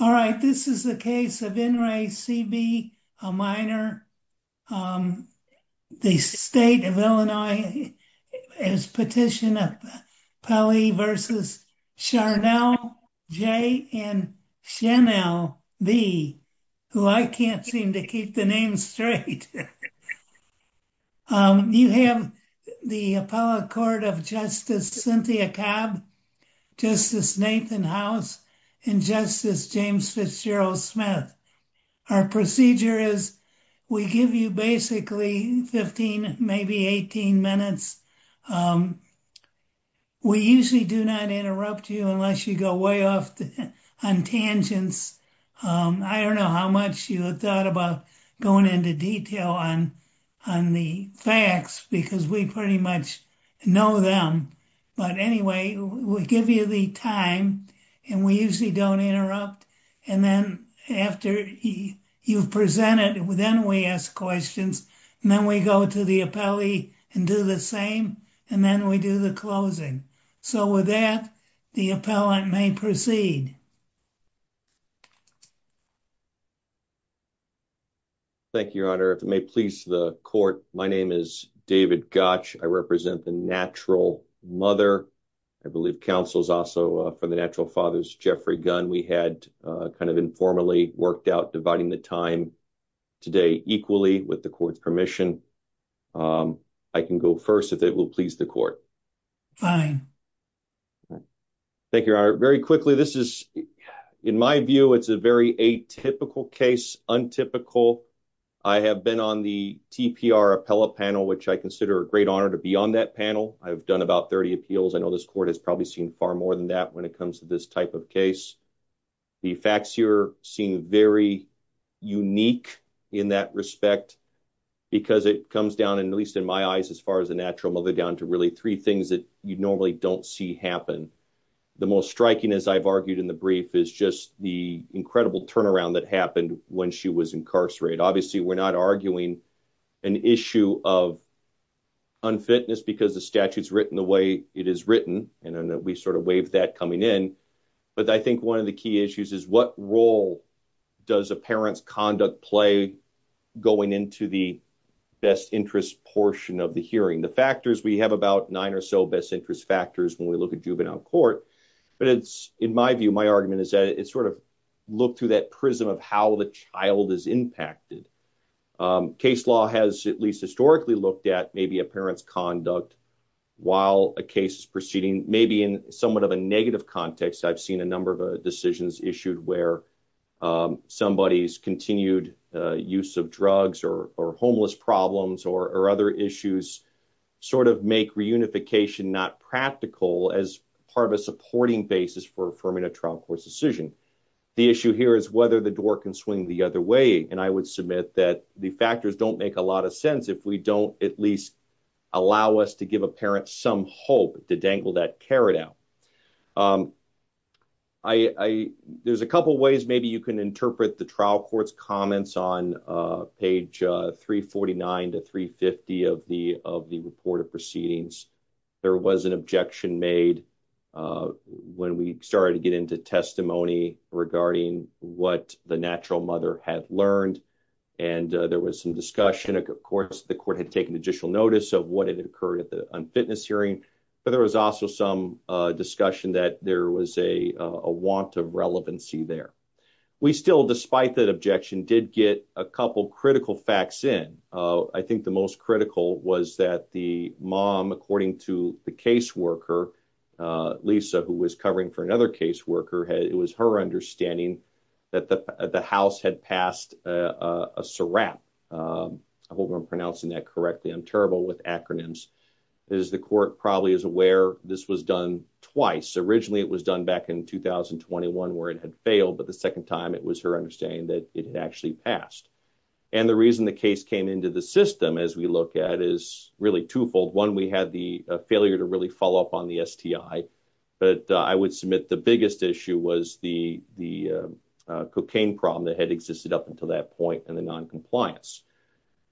All right, this is the case of N. Ray C.B. O'Meara, the state of Illinois, as petition of Pelley v. Charnell J. and Chenelle B., who I can't seem to keep the name straight. You have the appellate court of Justice Cynthia Cobb, Justice Nathan House, and Justice James Fitzgerald Smith. Our procedure is we give you basically 15, maybe 18 minutes. We usually do not interrupt you unless you go way off on tangents. I don't know how much you thought about going into detail on the facts, because we pretty much know them. But anyway, we give you the time, and we usually don't interrupt. And then after you've presented, then we ask questions, and then we go to the appellee and do the same, and then we do the closing. So with that, the appellant may proceed. Thank you, Your Honor. If it may please the court, my name is David Gotch. I represent the natural mother. I believe counsel is also for the natural fathers, Jeffrey Gunn. We had kind of informally worked out dividing the time today equally with the court's permission. I can go first if it will please the court. Fine. Thank you, Your Honor. Very quickly, this is, in my view, it's a very atypical case, untypical. I have been on the TPR appellate panel, which I consider a great honor to be on that panel. I've done about 30 appeals. I know this court has probably seen far more than that when it comes to this type of case. The facts here seem very unique in that respect because it comes down, at least in my eyes as far as a natural mother, down to really three things that you normally don't see happen. The most striking, as I've argued in the brief, is just the incredible turnaround that happened when she was incarcerated. Obviously, we're not arguing an issue of unfitness because the statute's written the way it is written, and then we sort of waive that coming in. But I think one of the key issues is what role does a parent's conduct play going into the best interest portion of the hearing? The factors, we have about nine or so best interest factors when we look at juvenile court, but it's, in my view, my argument is that it's sort of look through that prism of how the child is impacted. Case law has at least historically looked at maybe a parent's conduct while a case is proceeding. Maybe in somewhat of a negative context, I've seen a number of decisions issued where somebody's continued use of drugs or homeless problems or other issues sort of make reunification not practical as part of a supporting basis for affirming a trial court's decision. The issue here is whether the door can swing the other way, and I would submit that the factors don't make a lot of sense if we don't at least allow us to give a parent some hope to dangle that carrot out. There's a couple ways maybe you can interpret the trial court's comments on page 349 to 350 of the report of proceedings. There was an objection made when we started to get into testimony regarding what the natural mother had learned, and there was some discussion. Of course, the court had taken additional notice of what had occurred at the unfitness hearing, but there was also some discussion that there was a want of relevancy there. We still, despite that objection, did get a couple critical facts in. I think the most critical was that the mom, according to the caseworker, Lisa, who was covering for another caseworker, it was her understanding that the house had passed a SRAP. I hope I'm pronouncing that correctly. I'm terrible with acronyms. As the court probably is aware, this was done twice. Originally, it was done back in 2021 where it had failed, but the second time it was her understanding that it had actually passed. The reason the case came into the system as we look at is really twofold. One, we had the failure to really follow up on the STI, but I would submit the biggest issue was the cocaine problem that had existed up until that point and the noncompliance.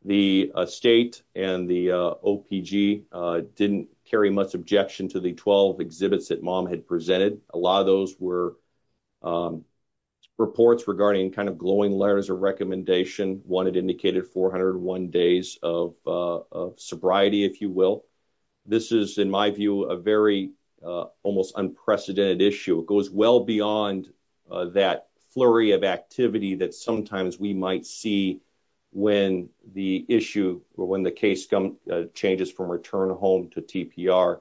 The state and the OPG didn't carry much objection to the 12 exhibits that mom had presented. A lot of those were reports regarding kind of glowing letters of recommendation. One had indicated 401 days of sobriety, if you will. This is, in my view, a very almost unprecedented issue. It goes well beyond that flurry of activity that sometimes we might see when the case changes from return home to TPR.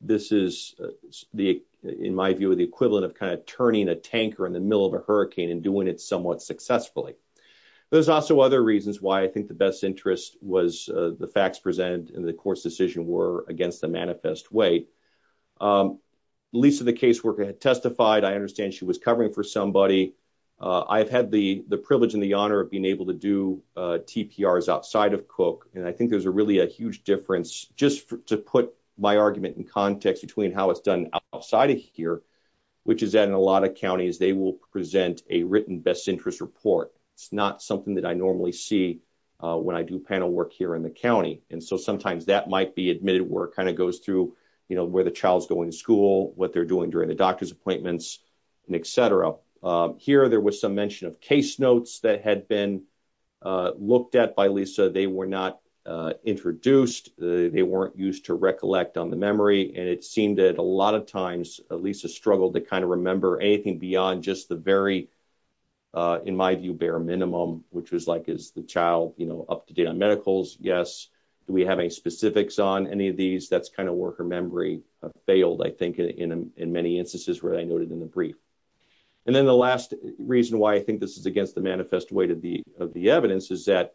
This is, in my view, the equivalent of kind of turning a tanker in the middle of a hurricane and doing it somewhat successfully. There's also other reasons why I think the best interest was the facts presented in the court's decision were against the manifest way. Lisa, the caseworker, had testified. I understand she was covering for somebody. I've had the privilege and the honor of being able to do TPRs outside of Cooke. I think there's a really a huge difference. Just to put my argument in context between how it's done outside of here, which is that in a lot of counties, they will present a written best interest report. It's not something that I normally see when I do panel work here in the county. Sometimes that might be admitted work. It kind of goes through where the child's going to school, what they're doing during the doctor's appointments, and et cetera. Here, there was some mention of case notes that had been looked at by Lisa. They were not introduced. They weren't used to recollect on the memory, and it seemed that a lot of times, Lisa struggled to kind of remember anything beyond just the very, in my view, bare minimum, which was like, is the child up to date on medicals? Yes. Do we have any specifics on any of these? That's kind of where her memory failed, I think, in many instances where I noted in the brief. Then the last reason why I think this is against the manifest way of the evidence is that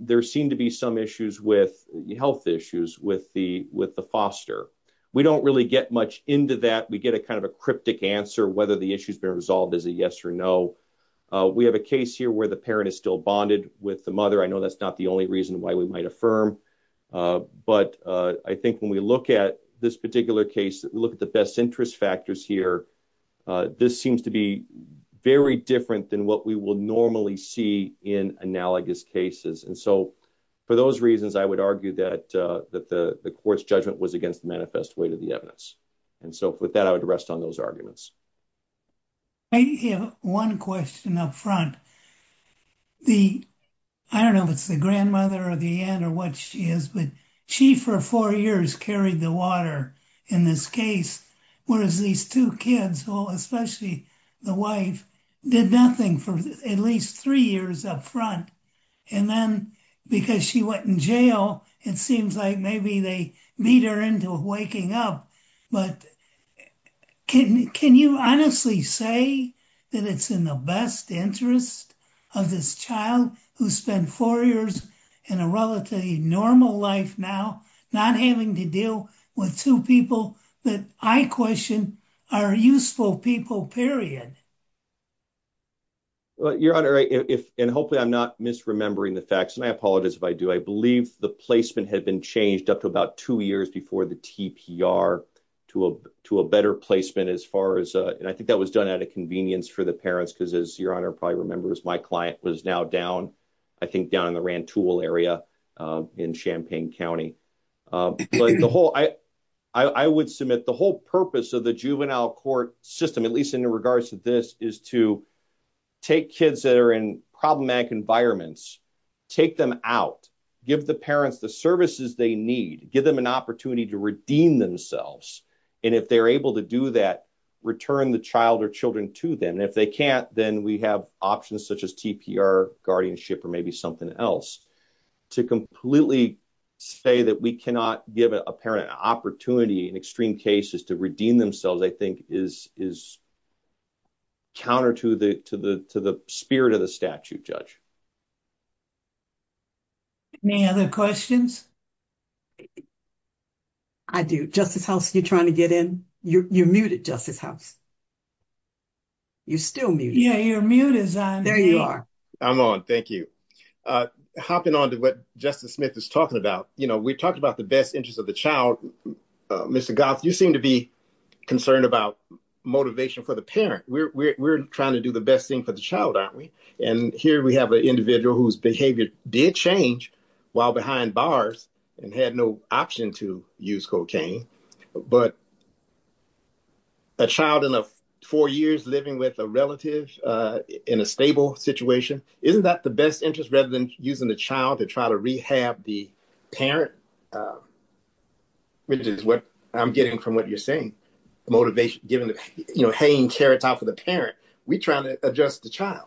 there seem to be some health issues with the foster. We don't really get much into that. We get a kind of a cryptic answer, whether the issue's been resolved. Is it yes or no? We have a case here where the parent is still bonded with the mother. I know that's not the only reason why we might affirm, but I think when we look at this particular case, look at the best interest factors here, this seems to be very different than what we will normally see in analogous cases. For those reasons, I would argue that the court's judgment was against the manifest way to the evidence. With that, I would rest on those arguments. I have one question up front. I don't know if it's the grandmother or the aunt or what she is, but she, for four years, carried the water in this case, whereas these two kids, especially the wife, did nothing for at least three years up front. Then because she went in jail, it seems like maybe they beat her into waking up. Can you honestly say that it's in the best interest of this child who spent four years in a relatively normal life now, not having to deal with two people that I question are useful people, period? Your Honor, and hopefully I'm not misremembering the facts, and I apologize if I do, I believe the placement had been changed up to about two years before the TPR to a better placement as far as, and I think that was done at a convenience for the parents, because as Your Honor probably remembers, my client was now down, I think down in the Rantoul area in Champaign County. I would submit the whole purpose of the juvenile court system, at least in regards to this, is to take kids that are in problematic environments, take them out, give the parents the services they need, give them an opportunity to redeem themselves, and if they're able to do that, return the child or children to them. And if they can't, then we have options such as TPR, guardianship, or maybe something else. To completely say that we cannot give a parent an opportunity in extreme cases to redeem themselves, I think is counter to the spirit of the statute, Judge. Any other questions? I do. Justice House, you're trying to get in? You're muted, Justice House. You're still muted. Yeah, you're muted. There you are. I'm on, thank you. Hopping on to what Justice Smith is talking about, you know, we talked about the best interest of the child. Mr. Goff, you seem to be concerned about motivation for the parent. We're trying to do the best thing for the child, aren't we? And here we have an individual whose behavior did change while behind bars and had no option to use cocaine, but a child in four years living with a relative in a stable situation, isn't that the best interest rather than using the child to try to rehab the parent? Which is what I'm getting from what you're saying. Motivation, giving, you know, hanging carrots off of the parent. We're trying to adjust the child.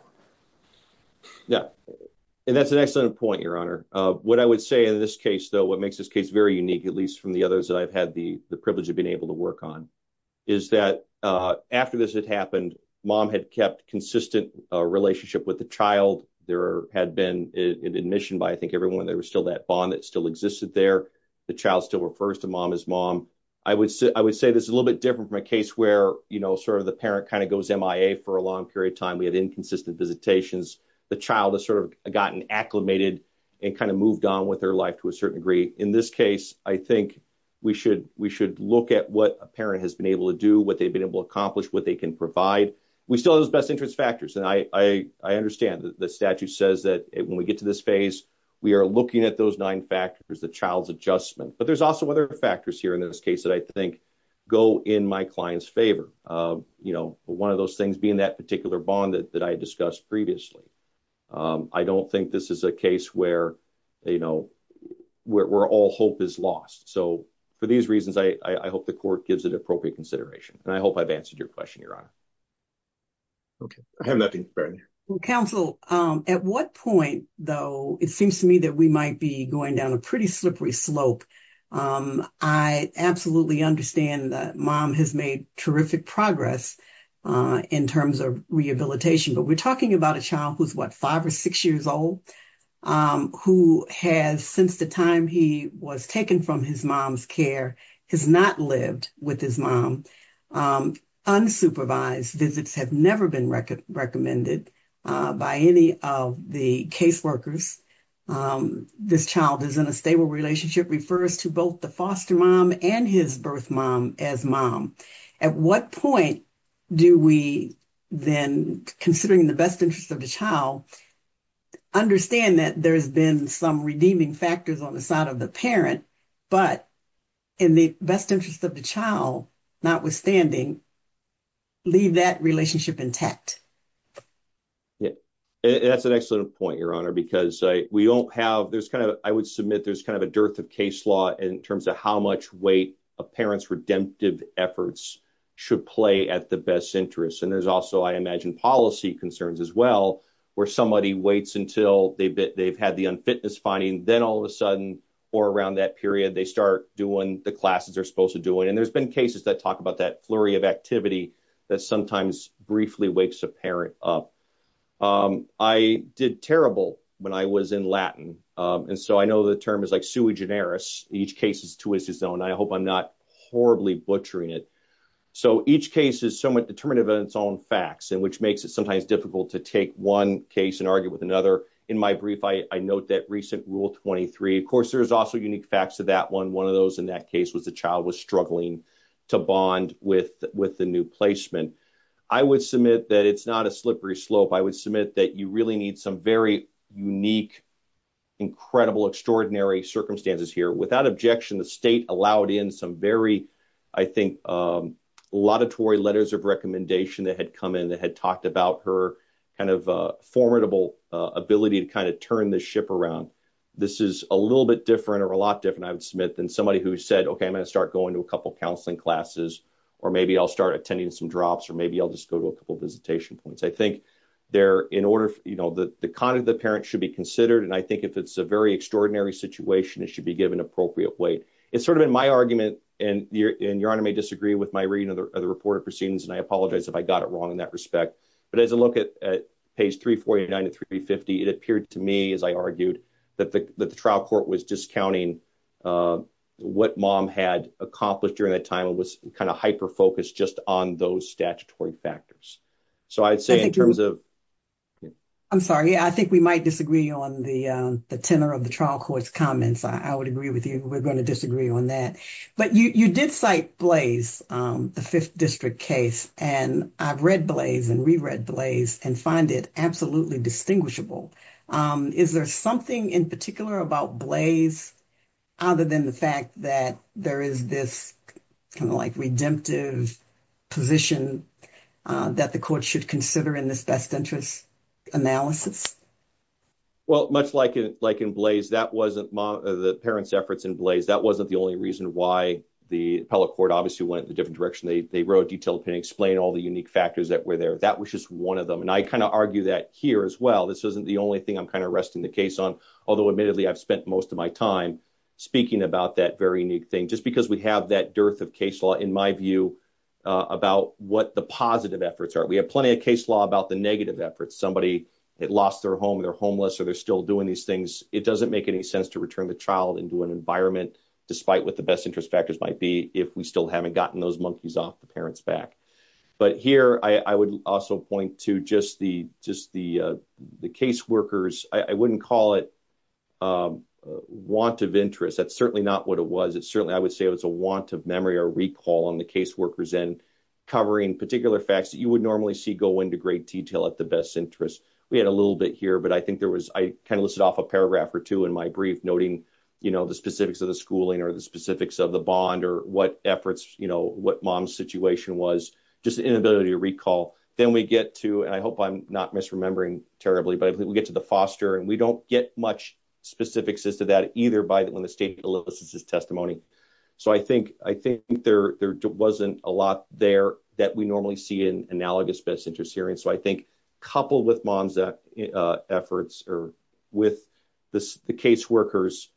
Yeah, and that's an excellent point, Your Honor. What I would say in this case, though, what makes this case very unique, at least from the others that I've had the privilege of being able to work on, is that after this had happened, mom had kept consistent relationship with the child. There had been an admission by, I think, everyone. There was still that bond that still existed there. The child still refers to mom as mom. I would say this is a little bit different from a case where, you know, sort of the parent kind of goes MIA for a long period of time. We had inconsistent visitations. The child has sort of gotten acclimated and kind of moved on with their life to a certain degree. In this case, I think we should look at what a parent has been able to do, what they've been able to accomplish, what they can provide. We still have those best interest factors. And I understand that the statute says that when we get to this phase, we are looking at those nine factors, the child's adjustment. But there's also other factors here in this case that I think go in my client's favor. You know, one of those things being that particular bond that I discussed previously. I don't think this is a case where, you know, where all hope is lost. So for these reasons, I hope the court gives it appropriate consideration. And I hope I've answered your question, Your Honor. Okay. I have nothing further. Counsel, at what point, though, it seems to me that we might be going down a pretty slippery slope. I absolutely understand that mom has made terrific progress in terms of rehabilitation. But we're talking about a child who's, what, five or six years old, who has, since the time he was taken from his mom's care, has not lived with his mom. Unsupervised visits have never been recommended by any of the caseworkers. This child is in a stable relationship, refers to both the foster mom and his birth mom as mom. At what point do we then, considering the best interest of the child, understand that there's been some redeeming factors on the side of the parent, but in the best interest of the child, notwithstanding, leave that relationship intact? Yeah, that's an excellent point, Your Honor, because we don't have, there's kind of, I would submit there's kind of a dearth of case law in terms of how much weight a parent's redemptive efforts should play at the best interest. And there's also, I imagine, policy concerns as well, where somebody waits until they've had the unfitness finding, then all of a sudden, or around that period, they start doing the classes they're supposed to do. And there's been cases that talk about that flurry of activity that sometimes briefly wakes a parent up. I did terrible when I was in Latin. And so I know the term is like sui generis, each case is to its own. I hope I'm not horribly butchering it. So each case is somewhat determinative in its own facts, and which makes it sometimes difficult to take one case and argue with another. In my brief, I note that recent Rule 23. Of course, there's also unique facts to that one. One of those in that case was the child was struggling to bond with the new placement. I would submit that it's not a slippery slope. I would submit that you really need some very unique, incredible, extraordinary circumstances here. Without objection, the state allowed in some very, I think, laudatory letters of recommendation that had come in that had talked about her kind of formidable ability to kind of turn the ship around. This is a little bit different or a lot different, I would submit, than somebody who said, okay, I'm going to start going to a couple counseling classes, or maybe I'll start attending some drops, or maybe I'll just go to a couple visitation points. I think the conduct of the parent should be considered, and I think if it's a very extraordinary situation, it should be given appropriate weight. It's sort of in my argument, and Your Honor may disagree with my reading of the report of proceedings, and I apologize if I got it wrong in that respect, but as I look at page 349 to 350, it appeared to me, as I argued, that the trial court was discounting what mom had accomplished during that time. It was kind of hyper-focused just on those statutory factors. I'm sorry. I think we might disagree on the tenor of the trial court's comments. I would agree with you. We're going to disagree on that, but you did cite Blaze, the Fifth District case, and I've read Blaze and reread Blaze and find it absolutely distinguishable. Is there something in particular about Blaze other than the fact that there is this kind of like redemptive position that the court should consider in this best interest analysis? Well, much like in Blaze, the parents' efforts in Blaze, that wasn't the only reason why the appellate court obviously went in a different direction. They wrote a detailed opinion, explained all the unique factors that were there. That was just one of them, and I kind of argue that here as well. This isn't the only thing I'm kind of resting the case on, although admittedly I've spent most of my time speaking about that very unique thing, just because we have that dearth of case law, in my view, about what the positive efforts are. We have plenty of case law about the negative efforts. Somebody lost their home, they're homeless, or they're still doing these things. It doesn't make any sense to return the child into an environment, despite what the best interest factors might be, if we still haven't gotten those monkeys off the parents' back. But here, I would also point to just the caseworkers. I wouldn't call it want of interest. That's certainly not what it was. Certainly, I would say it was a want of memory or recall on the caseworkers end, covering particular facts that you would normally see go into great detail at the best interest. We had a little bit here, but I think there was, I kind of listed off a paragraph or two in my brief, noting the specifics of the schooling, or the specifics of the bond, or what efforts, what mom's situation was, just the inability to recall. Then we get to, and I hope I'm not misremembering terribly, but we get to the foster, and we don't get much specifics as to that, either by when the state elicits his testimony. So, I think there wasn't a lot there that we normally see in analogous best interest hearings. So, I think coupled with mom's efforts, or with the caseworkers'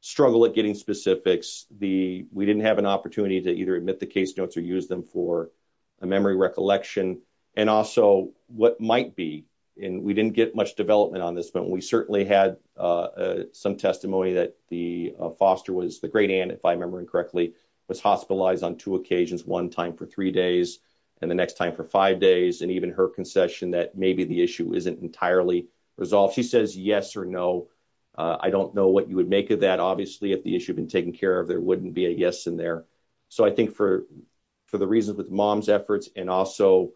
struggle at getting specifics, we didn't have an opportunity to either admit the case notes or use them for a memory recollection. And also, what might be, and we didn't get much development on this, but we certainly had some testimony that the foster was, the great aunt, if I'm remembering correctly, was hospitalized on two occasions, one time for three days, and the next time for five days. And even her concession that maybe the issue isn't entirely resolved. She says yes or no. I don't know what you would make of that. Obviously, if the issue had been taken care of, there wouldn't be a yes in there. So, I think for the reasons with mom's efforts, and also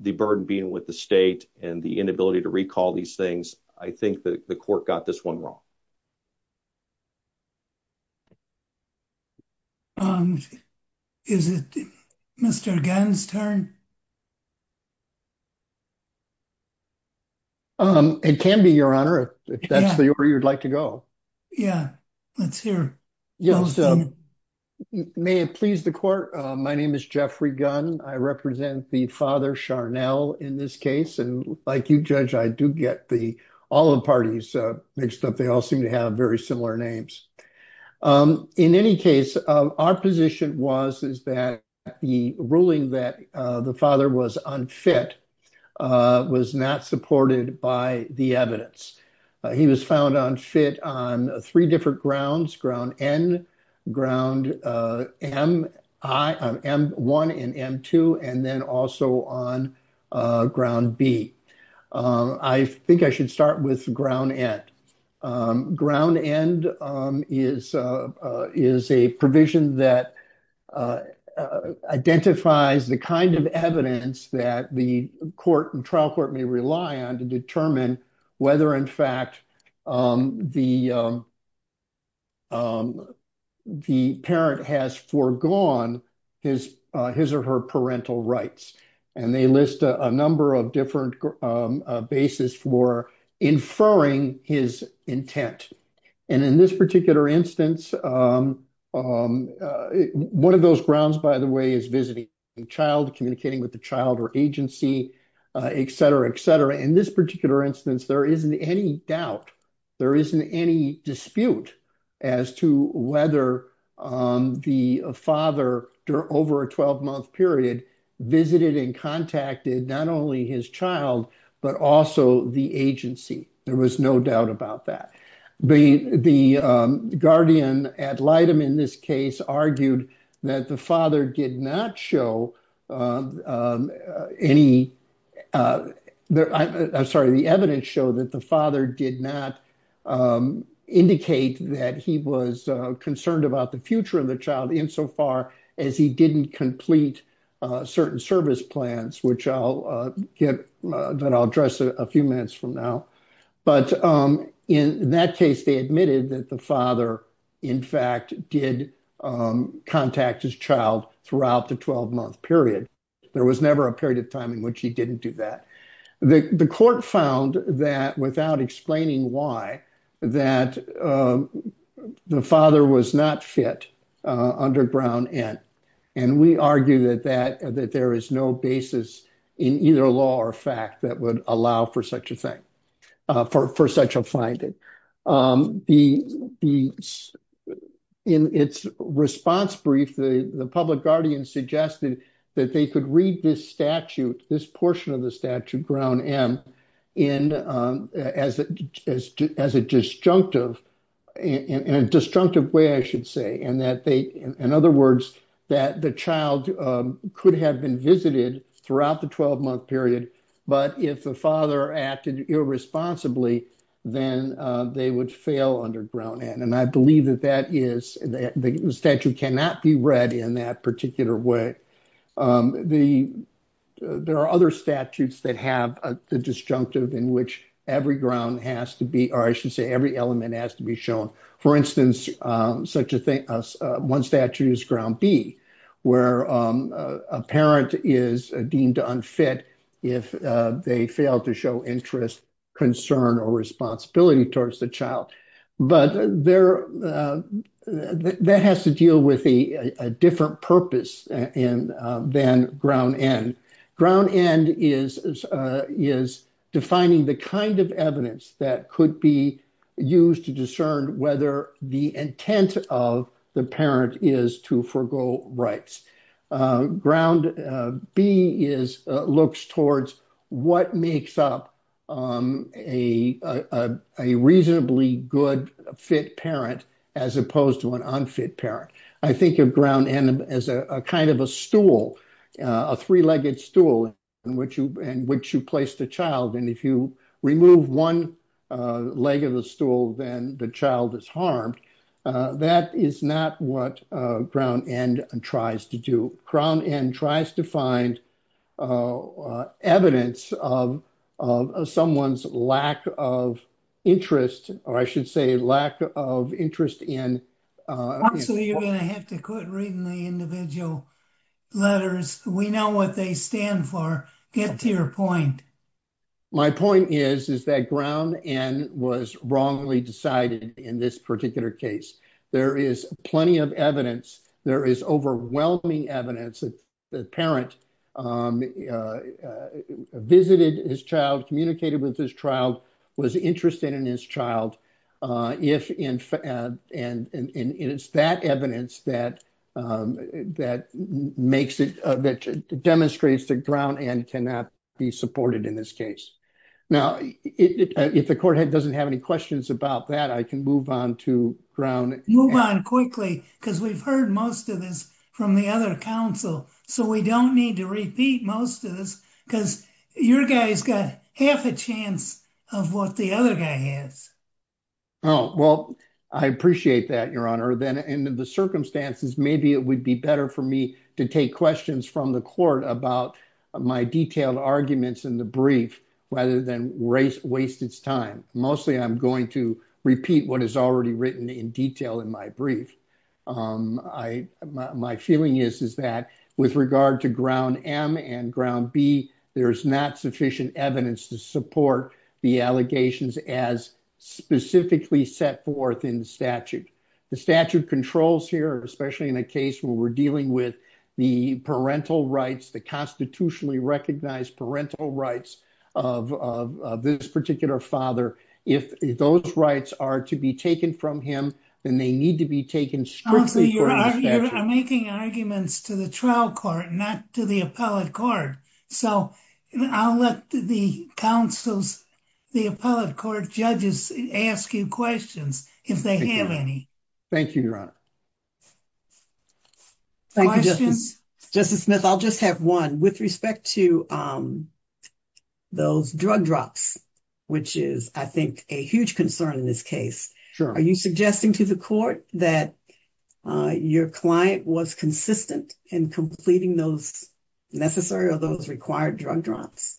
the burden being with the state, and the inability to recall these things, I think the court got this one wrong. Is it Mr. Gannon's turn? It can be, Your Honor, if that's where you'd like to go. Yeah, let's hear. Yes. May it please the court. My name is Jeffrey Gunn. I represent the father, Sharnell, in this case. And like you, Judge, I do get all the parties mixed up. They all seem to have very similar names. In any case, our position was that the ruling that the father was unfit was not supported by the evidence. He was found unfit on three different grounds, ground N, ground M1 and M2, and then also on ground B. I think I should start with ground N. Ground N is a provision that identifies the kind of evidence that the trial court may rely on to determine whether, in fact, the parent has foregone his or her parental rights. And they list a number of different bases for inferring his intent. And in this particular instance, one of those grounds, by the way, is visiting the child, communicating with the child or agency, et cetera, et cetera. In this particular instance, there isn't any doubt, there isn't any dispute as to whether the father, over a 12-month period, visited and contacted not only his child, but also the agency. There was no doubt about that. The guardian ad litem in this case argued that the father did not show any, I'm sorry, the evidence showed that the father did not indicate that he was concerned about the future of the child insofar as he didn't complete certain service plans, which I'll get, that I'll address a few minutes from now. But in that case, they admitted that the father, in fact, did contact his child throughout the 12-month period. There was never a period of time in which he didn't do that. The court found that, without explaining why, that the father was not fit under Brown N. And we argue that there is no basis in either law or fact that would allow for such a thing, for such a finding. In its response brief, the public guardian suggested that they could read this statute, this portion of the statute, Brown M, as a disjunctive, in a disjunctive way, I should say, and that they, in other words, that the child could have been visited throughout the 12-month period. But if the father acted irresponsibly, then they would fail under Brown N. And I believe that that is, the statute cannot be read in that particular way. There are other statutes that have the disjunctive in which every ground has to be, or I should say, every element has to be shown. For instance, one statute is Ground B, where a parent is deemed unfit if they fail to show interest, concern, or responsibility towards the child. But that has to deal with a different purpose than Brown N. Brown N is defining the kind of evidence that could be used to discern whether the intent of the parent is to forego rights. Ground B looks towards what makes up a reasonably good fit parent, as opposed to an unfit parent. I think of Brown N as a kind of a stool, a three-legged stool, in which you place the child. And if you remove one leg of the stool, then the child is harmed. That is not what Brown N tries to do. Brown N tries to find evidence of someone's lack of interest, or I should say, lack of interest in... Actually, you're going to have to quit reading the individual letters. We know what they stand for. Get to your point. My point is that Brown N was wrongly decided in this particular case. There is plenty of evidence. There is overwhelming evidence that the parent visited his child, communicated with his child, was interested in his child. And it's that evidence that demonstrates that Brown N cannot be supported in this case. Now, if the court doesn't have any questions about that, I can move on to Brown N. Oh, well, I appreciate that, Your Honor. Then in the circumstances, maybe it would be better for me to take questions from the court about my detailed arguments in the brief, rather than waste its time. Mostly, I'm going to repeat what is already written in detail in my brief. My feeling is that with regard to Ground M and Ground B, there's not sufficient evidence to support the allegations as specifically set forth in the statute. The statute controls here, especially in a case where we're dealing with the parental rights, the constitutionally recognized parental rights of this particular father. If those rights are to be taken from him, then they need to be taken strictly from the statute. I'm making arguments to the trial court, not to the appellate court. So I'll let the appellate court judges ask you questions, if they have any. Thank you, Your Honor. Questions? Justice Smith, I'll just have one. With respect to those drug drops, which is, I think, a huge concern in this case. Sure. Are you suggesting to the court that your client was consistent in completing those necessary or those required drug drops?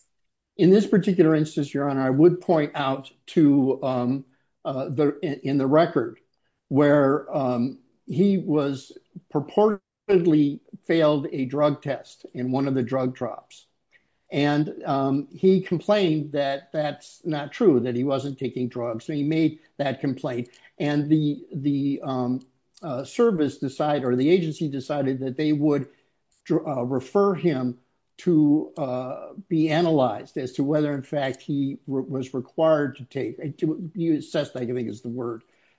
In this particular instance, Your Honor, I would point out in the record where he purportedly failed a drug test in one of the drug drops. And he complained that that's not true, that he wasn't taking drugs. So he made that complaint. And the service decided or the agency decided that they would refer him to be analyzed as to whether, in fact, he was required to take.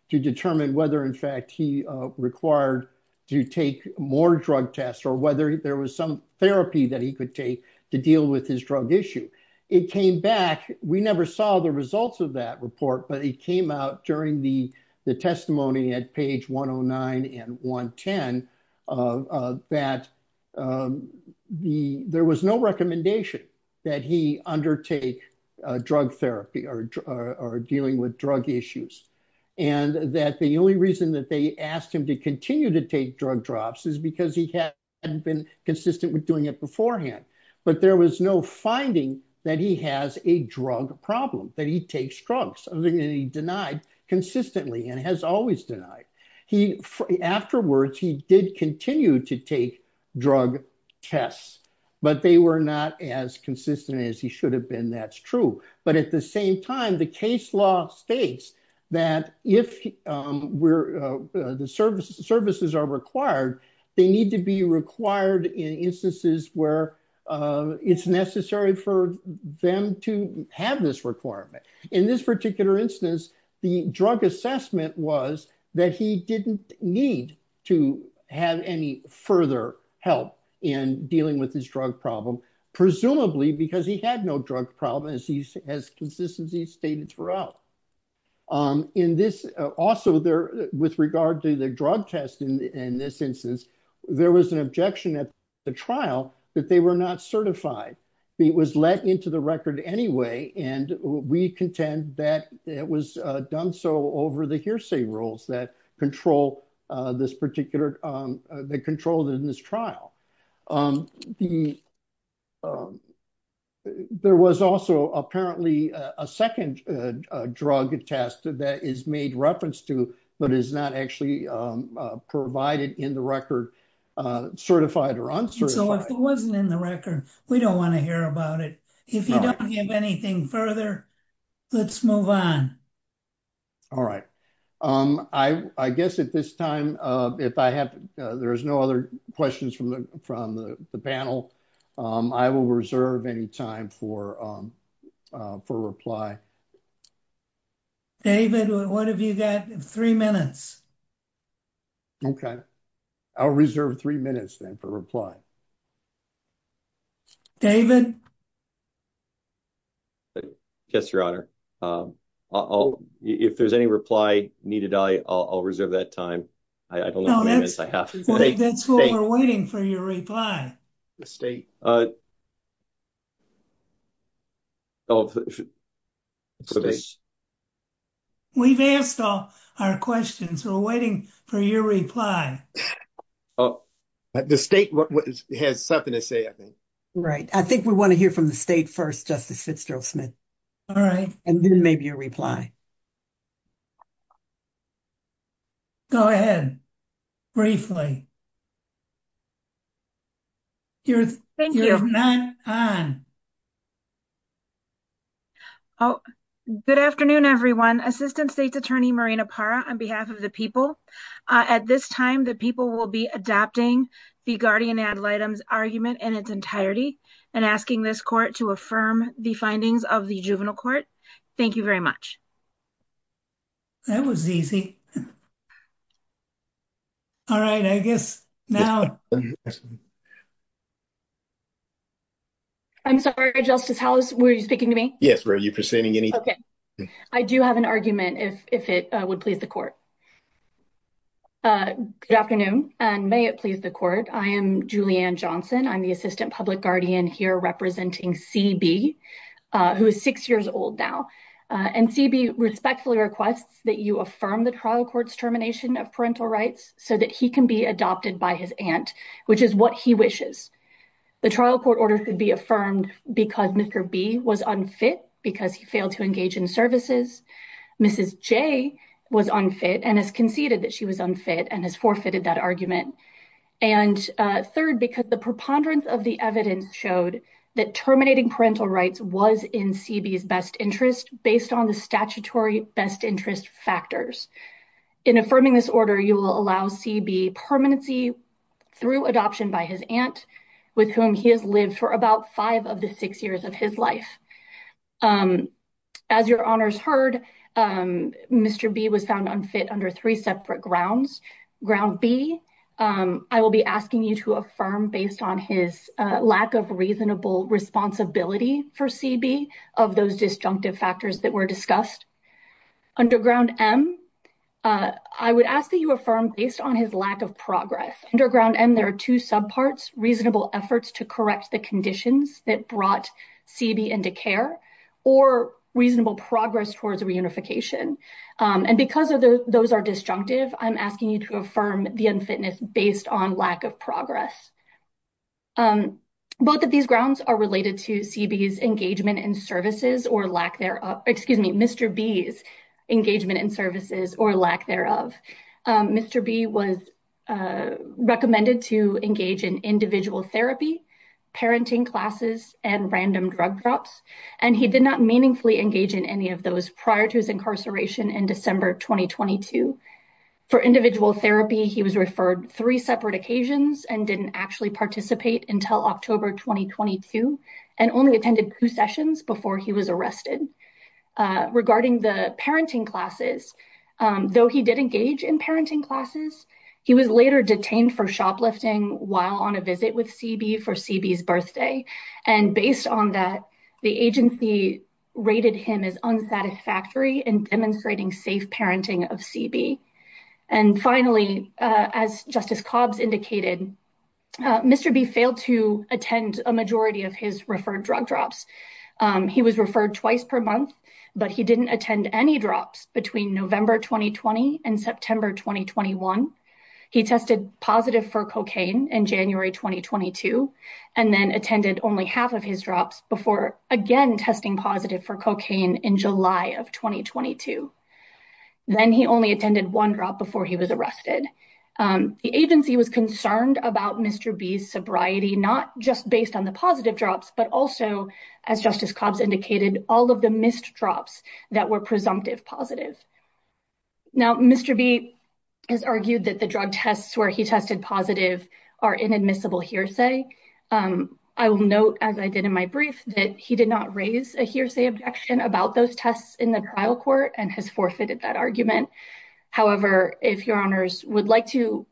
To determine whether, in fact, he required to take more drug tests or whether there was some therapy that he could take to deal with his drug issue. It came back. We never saw the results of that report. But it came out during the testimony at page 109 and 110 that there was no recommendation that he undertake drug therapy or dealing with drug issues. And that the only reason that they asked him to continue to take drug drops is because he hadn't been consistent with doing it beforehand. But there was no finding that he has a drug problem, that he takes drugs, and he denied consistently and has always denied. Afterwards, he did continue to take drug tests, but they were not as consistent as he should have been. That's true. But at the same time, the case law states that if the services are required, they need to be required in instances where it's necessary for them to have this requirement. In this particular instance, the drug assessment was that he didn't need to have any further help in dealing with his drug problem, presumably because he had no drug problem, as he has consistently stated throughout. Also, with regard to the drug test in this instance, there was an objection at the trial that they were not certified. It was let into the record anyway, and we contend that it was done so over the hearsay rules that control this particular trial. There was also apparently a second drug test that is made reference to, but is not actually provided in the record, certified or uncertified. So if it wasn't in the record, we don't want to hear about it. If you don't have anything further, let's move on. All right. I guess at this time, if there's no other questions from the panel, I will reserve any time for reply. David, what have you got? Three minutes. Okay. I'll reserve three minutes then for reply. David? Yes, Your Honor. If there's any reply needed, I'll reserve that time. I don't know how many minutes I have. That's why we're waiting for your reply. We've asked all our questions. We're waiting for your reply. The state has something to say, I think. Right. I think we want to hear from the state first, Justice Fitzgerald-Smith. All right. And then maybe your reply. Go ahead. Briefly. Thank you. We'll move on. Good afternoon, everyone. Assistant State's Attorney Marina Parra on behalf of the people. At this time, the people will be adopting the guardian ad litem argument in its entirety and asking this court to affirm the findings of the juvenile court. Thank you very much. That was easy. All right, I guess now. I'm sorry, Justice House, were you speaking to me? Yes, were you presenting anything? Okay. I do have an argument if it would please the court. Good afternoon, and may it please the court. I am Julianne Johnson. I'm the assistant public guardian here representing CB, who is six years old now. And CB respectfully requests that you affirm the trial court's termination of parental rights so that he can be adopted by his aunt, which is what he wishes. The trial court order could be affirmed because Mr. B was unfit because he failed to engage in services. Mrs. J was unfit and has conceded that she was unfit and has forfeited that argument. And third, because the preponderance of the evidence showed that terminating parental rights was in CB's best interest based on the statutory best interest factors. In affirming this order, you will allow CB permanency through adoption by his aunt, with whom he has lived for about five of the six years of his life. As your honors heard, Mr. B was found unfit under three separate grounds. Ground B, I will be asking you to affirm based on his lack of reasonable responsibility for CB of those disjunctive factors that were discussed. Underground M, I would ask that you affirm based on his lack of progress. Underground M, there are two subparts, reasonable efforts to correct the conditions that brought CB into care or reasonable progress towards reunification. And because those are disjunctive, I'm asking you to affirm the unfitness based on lack of progress. Both of these grounds are related to CB's engagement in services or lack thereof. Excuse me, Mr. B's engagement in services or lack thereof. Mr. B was recommended to engage in individual therapy, parenting classes, and random drug drops. And he did not meaningfully engage in any of those prior to his incarceration in December 2022. For individual therapy, he was referred three separate occasions and didn't actually participate until October 2022 and only attended two sessions before he was arrested. Regarding the parenting classes, though he did engage in parenting classes, he was later detained for shoplifting while on a visit with CB for CB's birthday. And based on that, the agency rated him as unsatisfactory in demonstrating safe parenting of CB. And finally, as Justice Cobbs indicated, Mr. B failed to attend a majority of his referred drug drops. He was referred twice per month, but he didn't attend any drops between November 2020 and September 2021. He tested positive for cocaine in January 2022 and then attended only half of his drops before again testing positive for cocaine in July of 2022. Then he only attended one drop before he was arrested. The agency was concerned about Mr. B's sobriety, not just based on the positive drops, but also, as Justice Cobbs indicated, all of the missed drops that were presumptive positive. Now, Mr. B has argued that the drug tests where he tested positive are inadmissible hearsay. I will note, as I did in my brief, that he did not raise a hearsay objection about those tests in the trial court and has forfeited that argument. However, if your honors would like to.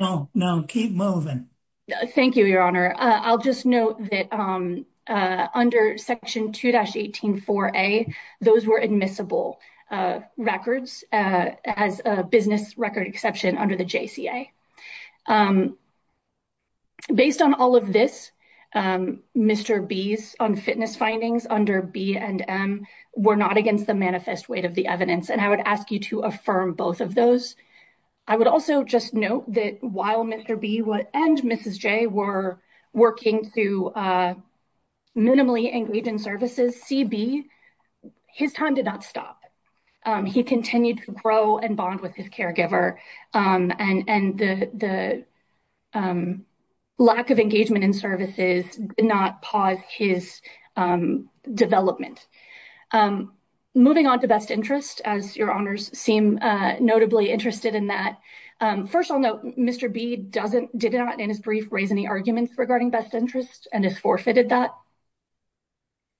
No, no, keep moving. Thank you, Your Honor. I'll just note that under Section 2-18-4A, those were admissible records as a business record exception under the JCA. Based on all of this, Mr. B's unfitness findings under B and M were not against the manifest weight of the evidence, and I would ask you to affirm both of those. I would also just note that while Mr. B and Mrs. J were working to minimally engage in services, CB, his time did not stop. He continued to grow and bond with his caregiver, and the lack of engagement in services did not pause his development. Moving on to best interest, as your honors seem notably interested in that. First, I'll note Mr. B did not, in his brief, raise any arguments regarding best interest and has forfeited that.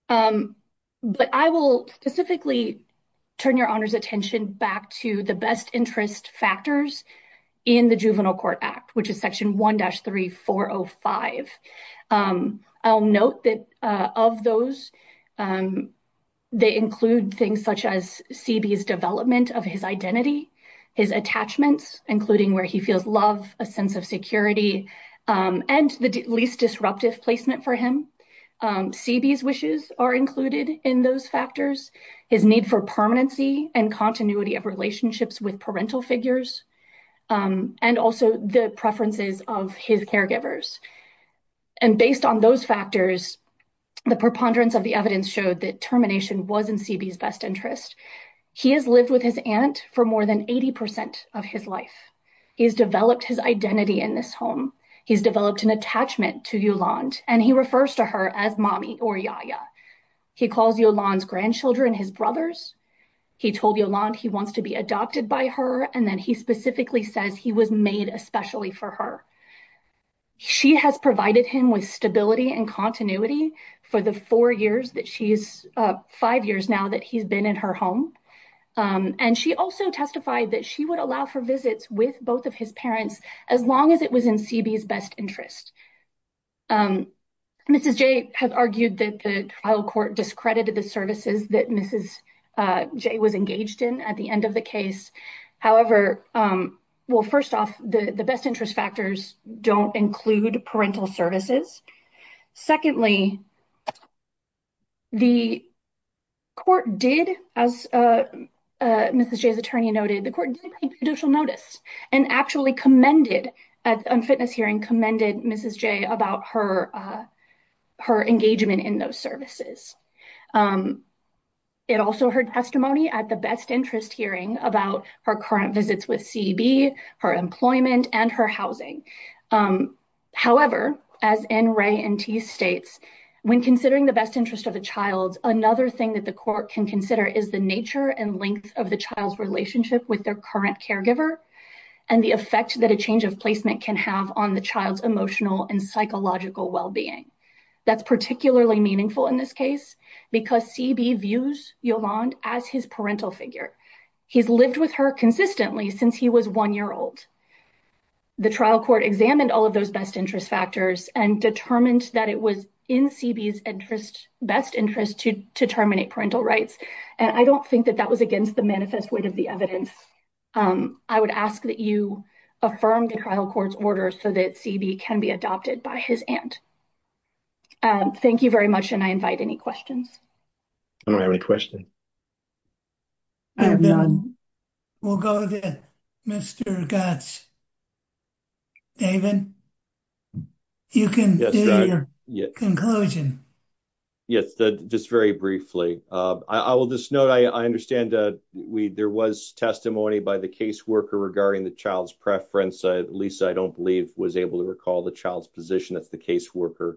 But I will specifically turn your honors' attention back to the best interest factors in the Juvenile Court Act, which is Section 1-3405. I'll note that of those, they include things such as CB's development of his identity, his attachments, including where he feels love, a sense of security, and the least disruptive placement for him. CB's wishes are included in those factors, his need for permanency and continuity of relationships with parental figures, and also the preferences of his caregivers. And based on those factors, the preponderance of the evidence showed that termination was in CB's best interest. He has lived with his aunt for more than 80% of his life. He has developed his identity in this home. He's developed an attachment to Yolande, and he refers to her as mommy or yaya. He calls Yolande's grandchildren his brothers. He told Yolande he wants to be adopted by her, and then he specifically says he was made especially for her. She has provided him with stability and continuity for the five years now that he's been in her home. And she also testified that she would allow for visits with both of his parents as long as it was in CB's best interest. Mrs. J has argued that the trial court discredited the services that Mrs. J was engaged in at the end of the case. However, well, first off, the best interest factors don't include parental services. Secondly, the court did, as Mrs. J's attorney noted, the court did take judicial notice and actually commended, at a fitness hearing, commended Mrs. J about her engagement in those services. It also heard testimony at the best interest hearing about her current visits with CB, her employment, and her housing. However, as N, Ray, and T states, when considering the best interest of a child, another thing that the court can consider is the nature and length of the child's relationship with their current caregiver and the effect that a change of placement can have on the child's emotional and psychological well-being. That's particularly meaningful in this case because CB views Yolande as his parental figure. He's lived with her consistently since he was one year old. The trial court examined all of those best interest factors and determined that it was in CB's best interest to terminate parental rights. And I don't think that that was against the manifest weight of the evidence. I would ask that you affirm the trial court's order so that CB can be adopted by his aunt. Thank you very much, and I invite any questions. I don't have any questions. I have none. We'll go to Mr. Gatz. David, you can do your conclusion. Yes, just very briefly. I will just note I understand there was testimony by the caseworker regarding the child's preference. Lisa, I don't believe, was able to recall the child's position. That's the caseworker.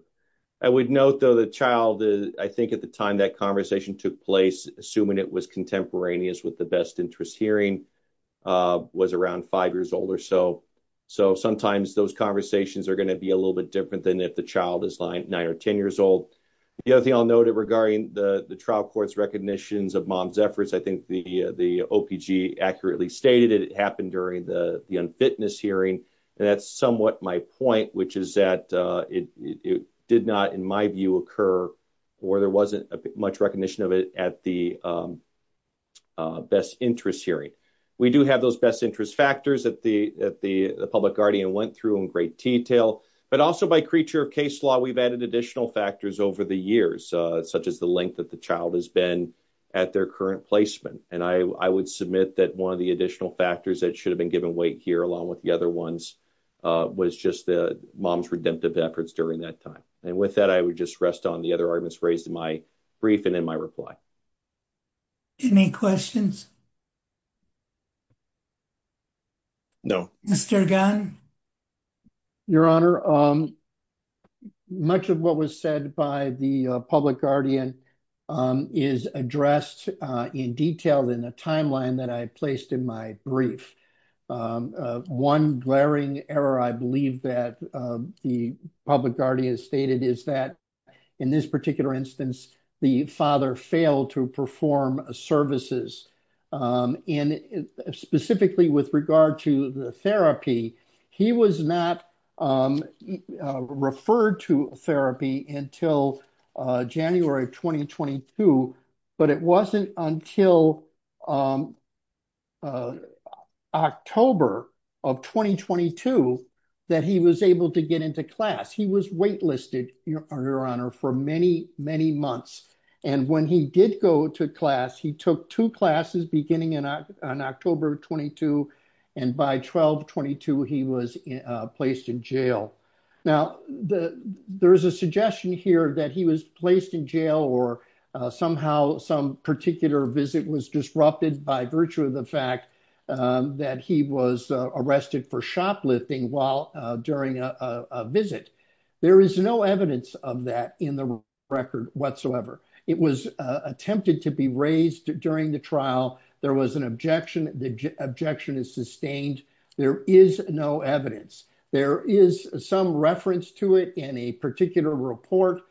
I would note, though, the child, I think at the time that conversation took place, assuming it was contemporaneous with the best interest hearing, was around five years old or so. So sometimes those conversations are going to be a little bit different than if the child is nine or ten years old. The other thing I'll note regarding the trial court's recognitions of mom's efforts, I think the OPG accurately stated it happened during the unfitness hearing, and that's somewhat my point, which is that it did not, in my view, occur or there wasn't much recognition of it at the best interest hearing. We do have those best interest factors that the public guardian went through in great detail, but also by creature of case law, we've added additional factors over the years, such as the length that the child has been at their current placement. And I would submit that one of the additional factors that should have been given weight here, along with the other ones, was just the mom's redemptive efforts during that time. And with that, I would just rest on the other arguments raised in my brief and in my reply. Any questions? No. Mr. Gunn? Your Honor, much of what was said by the public guardian is addressed in detail in the timeline that I placed in my brief. One glaring error, I believe, that the public guardian stated is that in this particular instance, the father failed to perform services. And specifically with regard to the therapy, he was not referred to therapy until January of 2022. But it wasn't until October of 2022 that he was able to get into class. He was waitlisted, Your Honor, for many, many months. And when he did go to class, he took two classes beginning on October 22. And by 1222, he was placed in jail. Now, there is a suggestion here that he was placed in jail or somehow some particular visit was disrupted by virtue of the fact that he was arrested for shoplifting during a visit. There is no evidence of that in the record whatsoever. It was attempted to be raised during the trial. There was an objection. The objection is sustained. There is no evidence. There is some reference to it in a particular report,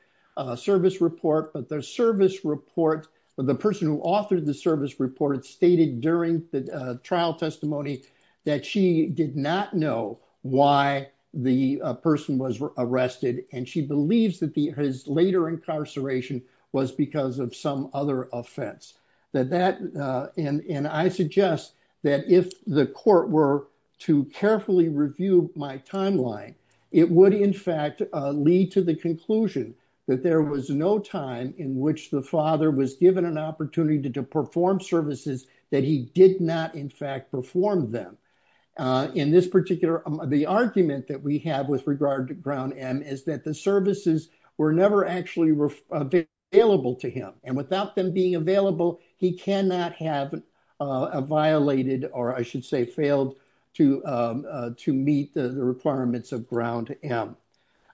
service report. But the service report, the person who authored the service report, stated during the trial testimony that she did not know why the person was arrested. And she believes that his later incarceration was because of some other offense. And I suggest that if the court were to carefully review my timeline, it would, in fact, lead to the conclusion that there was no time in which the father was given an opportunity to perform services that he did not, in fact, perform them. In this particular, the argument that we have with regard to Ground M is that the services were never actually available to him. And without them being available, he cannot have violated or I should say failed to meet the requirements of Ground M.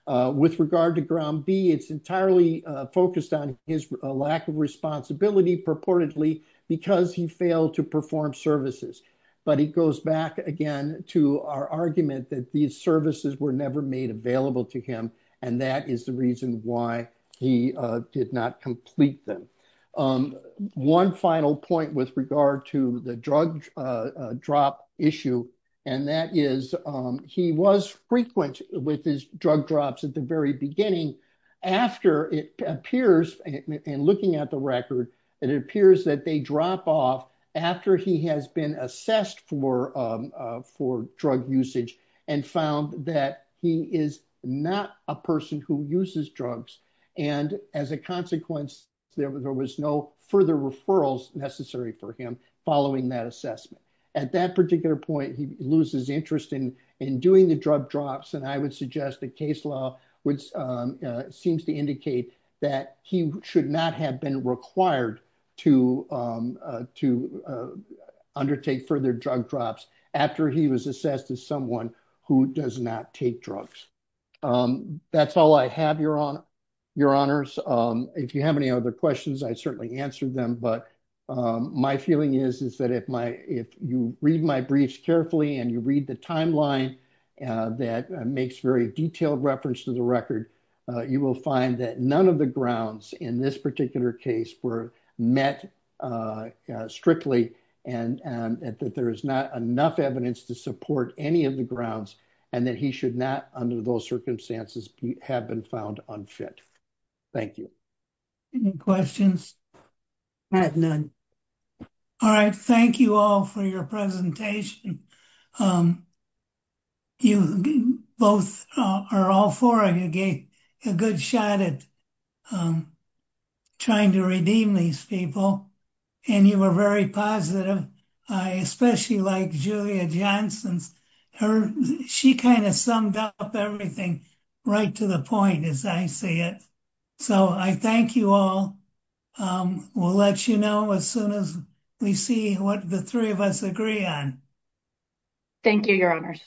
With regard to Ground B, it's entirely focused on his lack of responsibility purportedly because he failed to perform services. But it goes back again to our argument that these services were never made available to him. And that is the reason why he did not complete them. One final point with regard to the drug drop issue, and that is he was frequent with his drug drops at the very beginning. After it appears, and looking at the record, it appears that they drop off after he has been assessed for drug usage and found that he is not a person who uses drugs. And as a consequence, there was no further referrals necessary for him following that assessment. At that particular point, he loses interest in doing the drug drops. And I would suggest the case law, which seems to indicate that he should not have been required to undertake further drug drops after he was assessed as someone who does not take drugs. That's all I have, Your Honors. If you have any other questions, I certainly answered them. But my feeling is that if you read my briefs carefully and you read the timeline that makes very detailed reference to the record, you will find that none of the grounds in this particular case were met strictly and that there is not enough evidence to support any of the grounds and that he should not, under those circumstances, have been found unfit. Thank you. Any questions? I have none. All right. Thank you all for your presentation. You both, or all four of you, gave a good shot at trying to redeem these people. And you were very positive, especially like Julia Johnson's. She kind of summed up everything right to the point, as I see it. So I thank you all. We'll let you know as soon as we see what the three of us agree on. Thank you, Your Honors.